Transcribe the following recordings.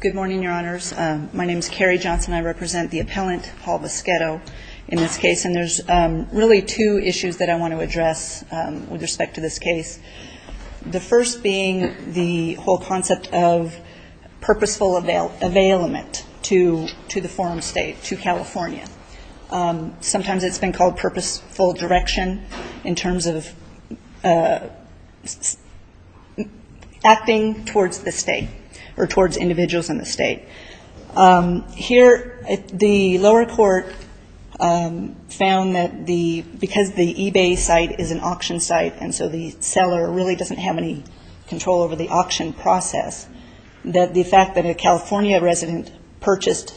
Good morning, Your Honors. My name is Carrie Johnson. I represent the appellant, Paul Voschetto, in this case. And there's really two issues that I want to address with respect to this case. The first being the whole concept of purposeful availament to the forum state, to California. Sometimes it's been called purposeful direction in terms of acting towards the state or towards individuals in the state. Here, the lower court found that the, because the eBay site is an auction site, and so the seller really doesn't have any control over the auction process, that the fact that a California resident purchased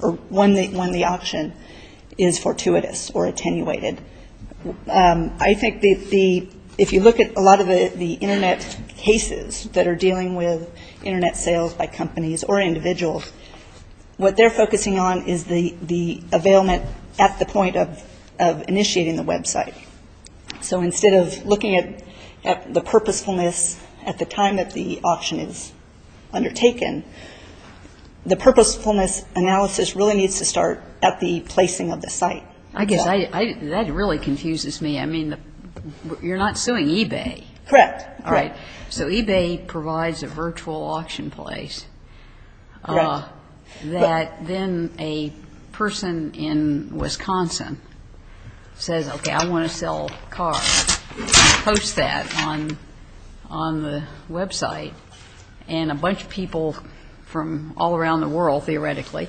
or won the auction is fortuitous or attenuated. I think the, if you look at a lot of the Internet cases that are dealing with Internet sales by companies or individuals, what they're So instead of looking at the purposefulness at the time that the auction is undertaken, the purposefulness analysis really needs to start at the placing of the site. I guess that really confuses me. I mean, you're not suing eBay. Correct. All right. So eBay provides a virtual auction place that then a person in Wisconsin says, okay, I want to sell a car. You post that on the Web site, and a bunch of people from all around the world, theoretically,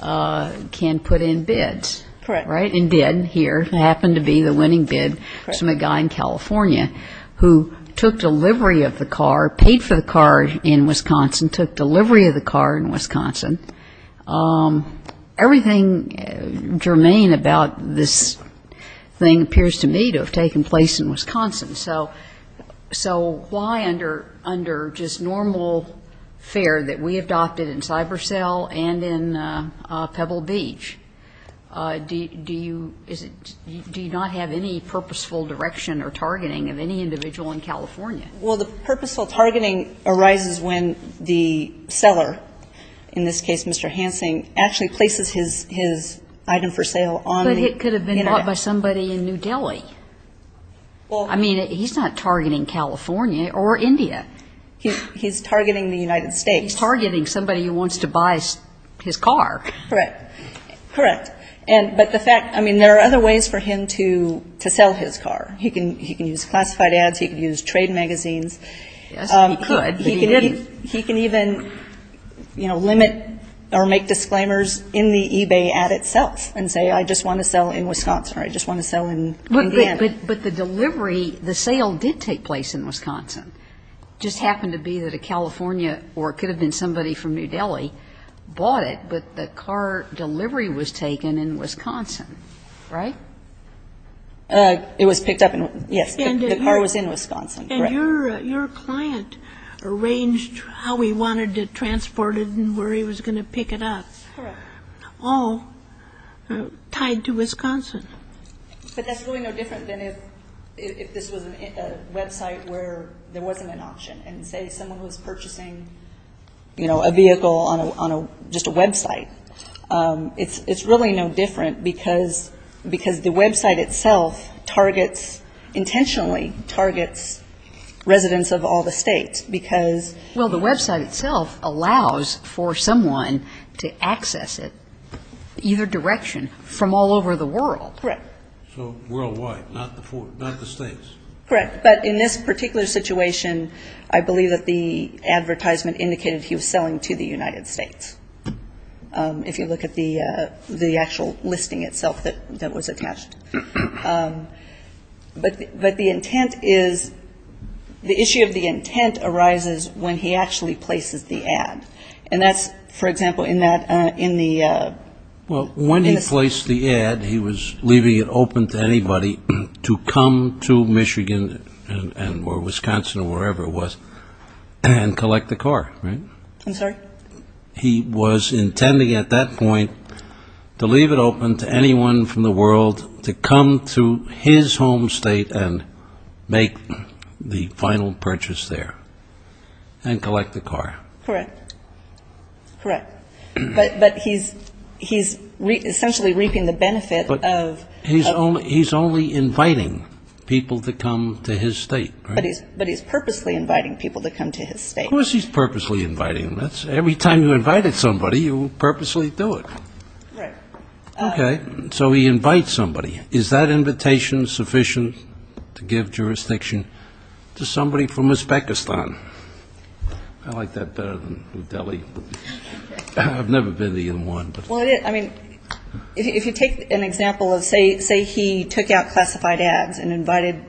can put in bids. Correct. Right? In bid here. It happened to be the winning bid from a guy in California who took delivery of the car, paid for the car in Wisconsin, took delivery of the car in Wisconsin. Everything germane about this thing appears to me to have taken place in Wisconsin. So why under just normal fare that we adopted in CyberSell and in Pebble Beach, do you not have any purposeful direction or targeting of any individual in California? Well, the purposeful targeting arises when the seller, in this case Mr. Hansen, actually places his item for sale on the Internet. But it could have been bought by somebody in New Delhi. I mean, he's not targeting California or India. He's targeting the United States. He's targeting somebody who wants to buy his car. Correct. Correct. But the fact, I mean, there are other ways for him to sell his car. He can use classified ads. He can use trade magazines. Yes, he could. He can even, you know, limit or make disclaimers in the eBay ad itself and say I just want to sell in Wisconsin or I just want to sell in Canada. But the delivery, the sale did take place in Wisconsin. It just happened to be that a California or it could have been somebody from New Delhi bought it, but the car delivery was taken in Wisconsin. Right? It was picked up in, yes, the car was in Wisconsin. And your client arranged how he wanted to transport it and where he was going to pick it up. Correct. All tied to Wisconsin. But that's really no different than if this was a Web site where there wasn't an option. And say someone was purchasing, you know, a vehicle on a, just a Web site. It's really no different because the Web site itself targets, intentionally targets residents of all the states because Well, the Web site itself allows for someone to access it either direction, from all over the world. Correct. So worldwide, not the states. Correct. But in this particular situation, I believe that the advertisement indicated he was selling to the United States. If you look at the actual listing itself that was attached. But the intent is, the issue of the intent arises when he actually places the ad. And that's, for example, in that, in the Well, when he placed the ad, he was leaving it open to anybody to come to Michigan and or Wisconsin or wherever it was, and collect the car, right? I'm sorry? He was intending at that point to leave it open to anyone from the world to come to his home state and make the final purchase there and collect the car. Correct. Correct. But he's, he's essentially reaping the benefit of He's only, he's only inviting people to come to his state, right? But he's, but he's purposely inviting people to come to his state. Of course he's purposely inviting them. That's, every time you invited somebody, you purposely do it. Right. Okay. So he invites somebody. Is that invitation sufficient to give jurisdiction to somebody from Uzbekistan? I like that better than New Delhi. I've never been to even one, but Well, it, I mean, if you take an example of, say, say he took out classified ads and invited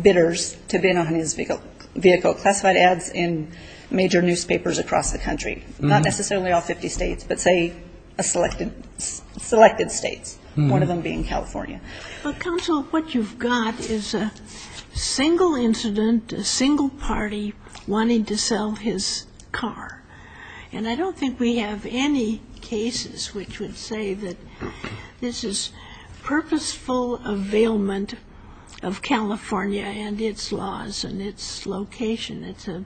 bidders to bid on his vehicle, vehicle classified ads in major newspapers across the country, not necessarily all 50 states, but say a selected, selected states, one of them being California. But counsel, what you've got is a single incident, a single party wanting to sell his car. And I don't think we have any cases which would say that this is purposeful availment of California and its laws and its location. It's a,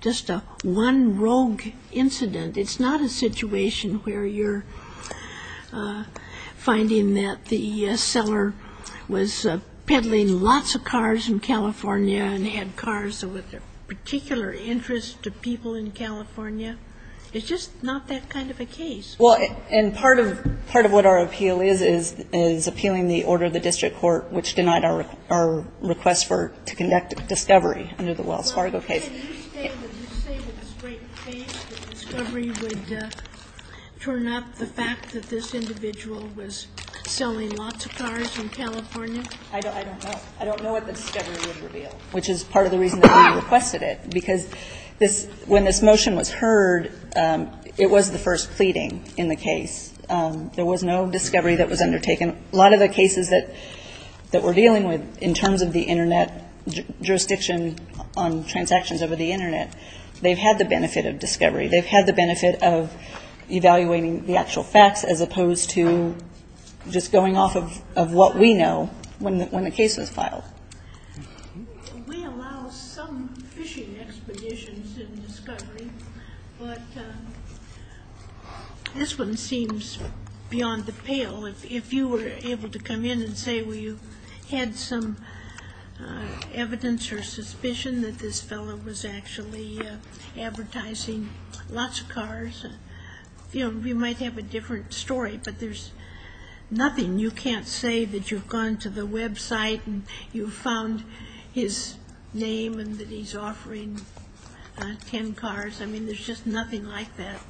just a one rogue incident. It's not a situation where you're finding that the seller was peddling lots of cars in California and had cars with a particular interest to people in California. It's just not that kind of a case. Well, and part of, part of what our appeal is, is, is appealing the order of the district court, which denied our, our request for, to conduct discovery under the Wells Fargo case. Well, but can you say, would you say with a straight face that discovery would turn up the fact that this individual was selling lots of cars in California? I don't, I don't know. I don't know what the discovery would reveal, which is part of the reason that we requested it, because this, when this motion was heard, it was the first pleading in the case. There was no discovery that was undertaken. A lot of the cases that, that we're dealing with, in terms of the internet jurisdiction on transactions over the internet, they've had the benefit of discovery. They've had the benefit of evaluating the actual facts as opposed to just going off of, of what we know when the, when the case was filed. We allow some fishing expeditions in discovery, but this one seems beyond the pale. If, if you were able to come in and say, well, you had some evidence or suspicion that this fellow was actually advertising lots of cars, you know, we might have a different story, but there's nothing. You can't say that you've gone to the website and you found his name and that he's offering 10 cars. I mean, there's just nothing like that.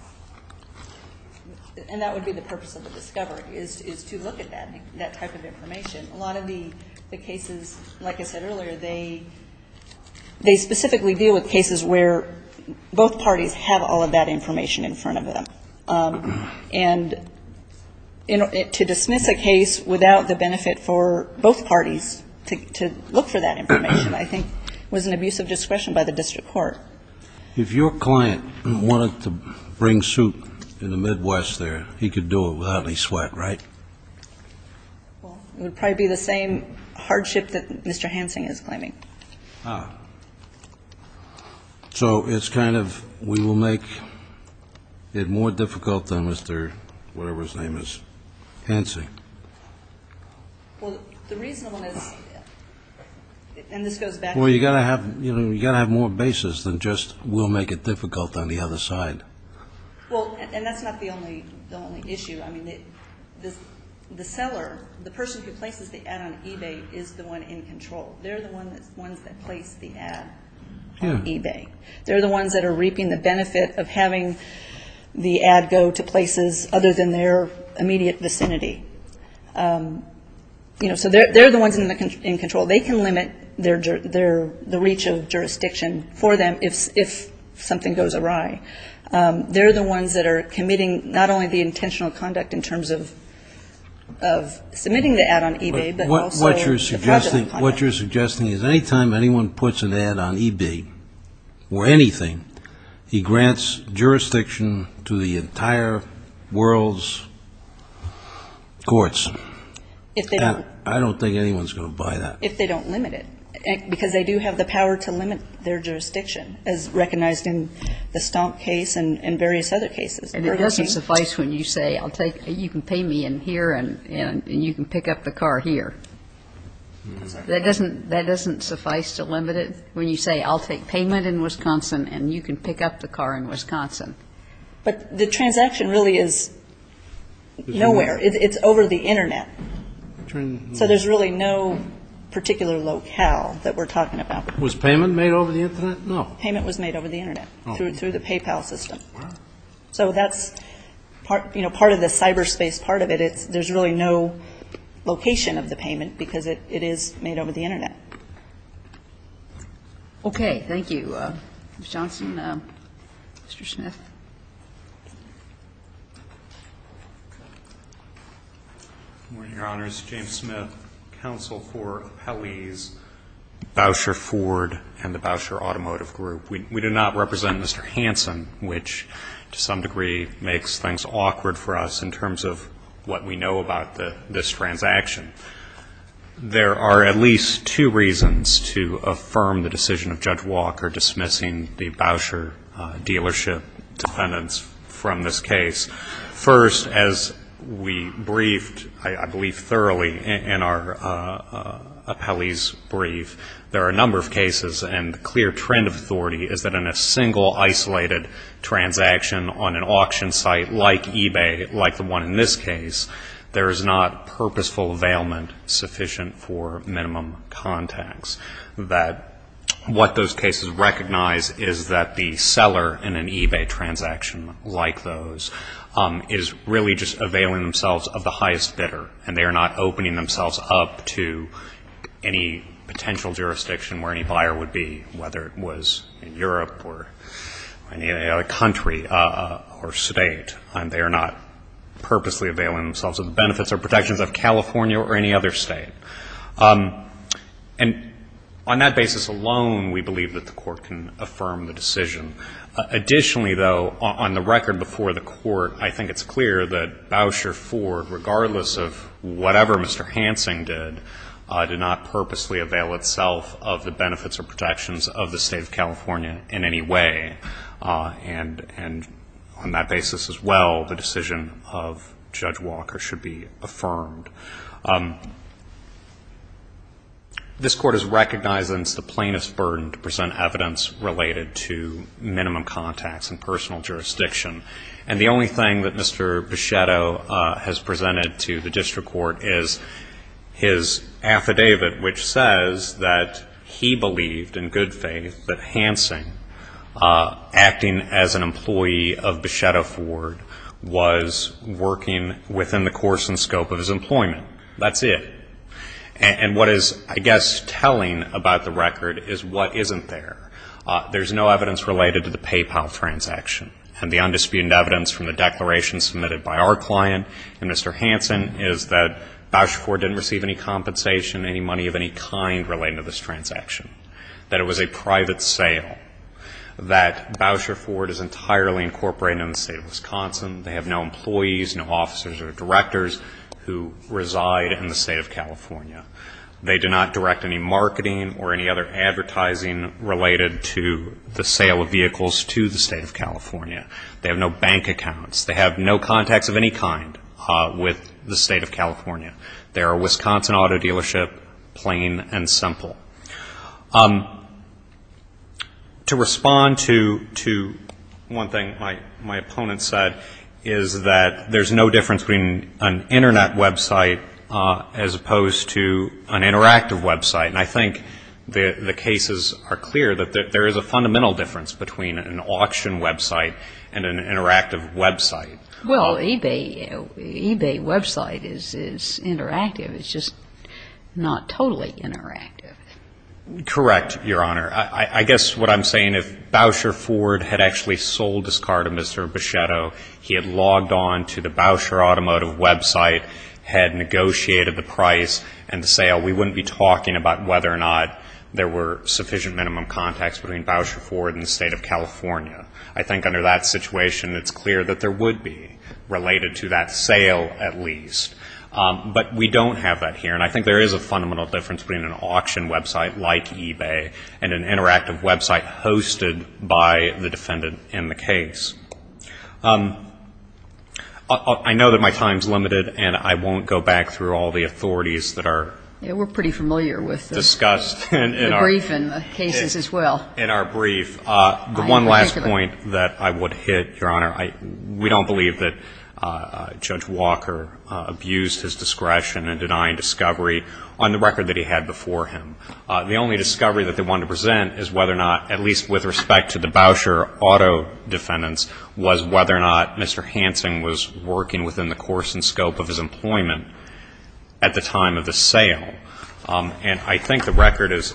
And that would be the purpose of the discovery is, is to look at that, that type of information. A lot of the, the cases, like I said earlier, they, they specifically deal with cases where both parties have all of that information in front of them. And to dismiss a case without the benefit for both parties to, to look for that information, I think was an abuse of discretion by the district court. If your client wanted to bring suit in the Midwest there, he could do it without any sweat, right? Well, it would probably be the same hardship that Mr. Hansing is claiming. Ah. So it's kind of, we will make it more difficult than Mr. whatever his name is, Hansing. Well, the reasonable is, and this goes back to Well, you got to have, you know, you got to have more basis than just we'll make it difficult on the other side. Well, and that's not the only, the only issue. I mean, the, the seller, the person who places the ad on eBay is the one in control. They're the ones that place the ad on eBay. They're the ones that are reaping the benefit of having the ad go to places other than their immediate vicinity. Um, you know, so they're, they're the ones in the control. They can limit their, their, the reach of jurisdiction for them. If, if something goes awry, um, they're the ones that are committing not only the intentional conduct in terms of, of submitting the ad on eBay, but also What you're suggesting, what you're suggesting is anytime anyone puts an ad on eBay or anything, he grants jurisdiction to the entire world's courts. If they don't I don't think anyone's going to buy that. If they don't limit it, because they do have the power to limit their jurisdiction as recognized in the Stomp case and, and various other cases. And it doesn't suffice when you say I'll take, you can pay me in here and, and you can pick up the car here. That doesn't, that doesn't suffice to limit it. When you say I'll take payment in Wisconsin and you can pick up the car in Wisconsin. But the transaction really is nowhere. It's, it's over the internet. So there's really no particular locale that we're talking about. Was payment made over the internet? No. Payment was made over the internet. Oh. Through, through the PayPal system. Wow. So that's part, you know, part of the cyberspace part of it. It's, there's really no location of the payment because it, it is made over the internet. Okay. Thank you. Mr. Johnson. Mr. Smith. Good morning, Your Honors. James Smith, counsel for Appellee's Bowsher Ford and the Bowsher Automotive Group. We, we do not represent Mr. Hansen, which to some degree makes things awkward for us in terms of what we know about the, this transaction. There are at least two reasons to affirm the decision of Judge Walker dismissing the Bowsher dealership dependents from this case. First, as we briefed, I believe thoroughly in our appellee's brief, there are a number of cases and the clear trend of authority is that in a single isolated transaction on an auction site like eBay, like the one in this case, there is not purposeful availment sufficient for minimum contacts. That what those cases recognize is that the seller in an eBay transaction like those is really just availing themselves of the highest bidder and they are not opening themselves up to any potential jurisdiction where any buyer would be, whether it was in California or any other state. And on that basis alone, we believe that the Court can affirm the decision. Additionally, though, on the record before the Court, I think it's clear that Bowsher Ford, regardless of whatever Mr. Hansen did, did not purposely avail itself of the benefits or protections of the State of California in any way. And on that basis as well, the decision of Judge Walker should be affirmed. This Court has recognized that it's the plainest burden to present evidence related to minimum contacts and personal jurisdiction. And the only thing that Mr. Pichetto has presented to the District Court is his affidavit which says that he believed in good faith that Hansen acting as an employee of Pichetto Ford was working within the course and scope of his employment. That's it. And what is, I guess, telling about the record is what isn't there. There's no evidence related to the PayPal transaction. And the undisputed evidence from the declaration submitted by our client and Mr. Hansen is that Bowsher Ford didn't receive any compensation, any money of any kind related to this transaction. That it was a private sale. That Bowsher Ford is entirely incorporated in the State of Wisconsin. They have no employees, no officers or directors who reside in the State of California. They do not direct any marketing or any other advertising related to the sale of vehicles to the State of California. They have no bank accounts. They have no contacts of any kind with the State of California. They are a Wisconsin auto dealership, plain and simple. To respond to one thing my opponent said is that there's no difference between an Internet website as opposed to an interactive website. And I think the cases are clear that there is a fundamental difference between an auction website and an interactive website. Well, eBay website is interactive. It's just not totally interactive. Correct, Your Honor. I guess what I'm saying, if Bowsher Ford had actually sold his car to Mr. Buschetto, he had logged on to the Bowsher Automotive website, had negotiated the price and the sale, we wouldn't be talking about whether or not there were sufficient minimum contacts between Bowsher Ford and the State of California. I think under that would be related to that sale at least. But we don't have that here. And I think there is a fundamental difference between an auction website like eBay and an interactive website hosted by the defendant in the case. I know that my time is limited, and I won't go back through all the authorities that are discussed in our brief, the one last point that I would hit, Your Honor. We don't believe that Judge Walker abused his discretion in denying discovery on the record that he had before him. The only discovery that they wanted to present is whether or not, at least with respect to the Bowsher auto defendants, was whether or not Mr. Hansen was working within the course and scope of his employment at the time of the sale. And I think the record is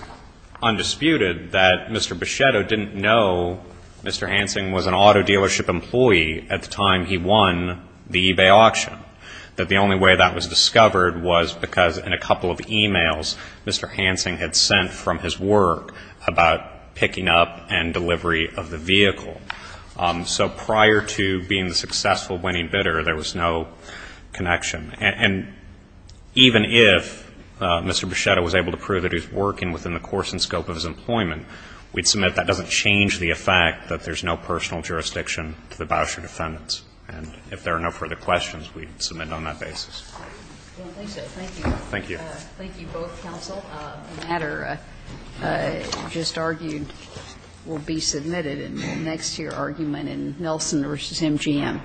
undisputed that Mr. Buschetto didn't know Mr. Hansen was an auto dealership employee at the time he won the eBay auction, that the only way that was discovered was because in a couple of e-mails Mr. Hansen had sent from his work about picking up and delivery of the vehicle. So prior to being the successful winning bidder, there was no connection. And even if Mr. Buschetto was able to prove that he was working within the course and scope of his employment, we'd submit that doesn't change the effect that there's no personal jurisdiction to the Bowsher defendants. And if there are no further questions, we'd submit it on that basis. Well, thank you. Thank you. Thank you both, counsel. A matter just argued will be submitted in the next year argument in Nelson v. MGM. Thank you.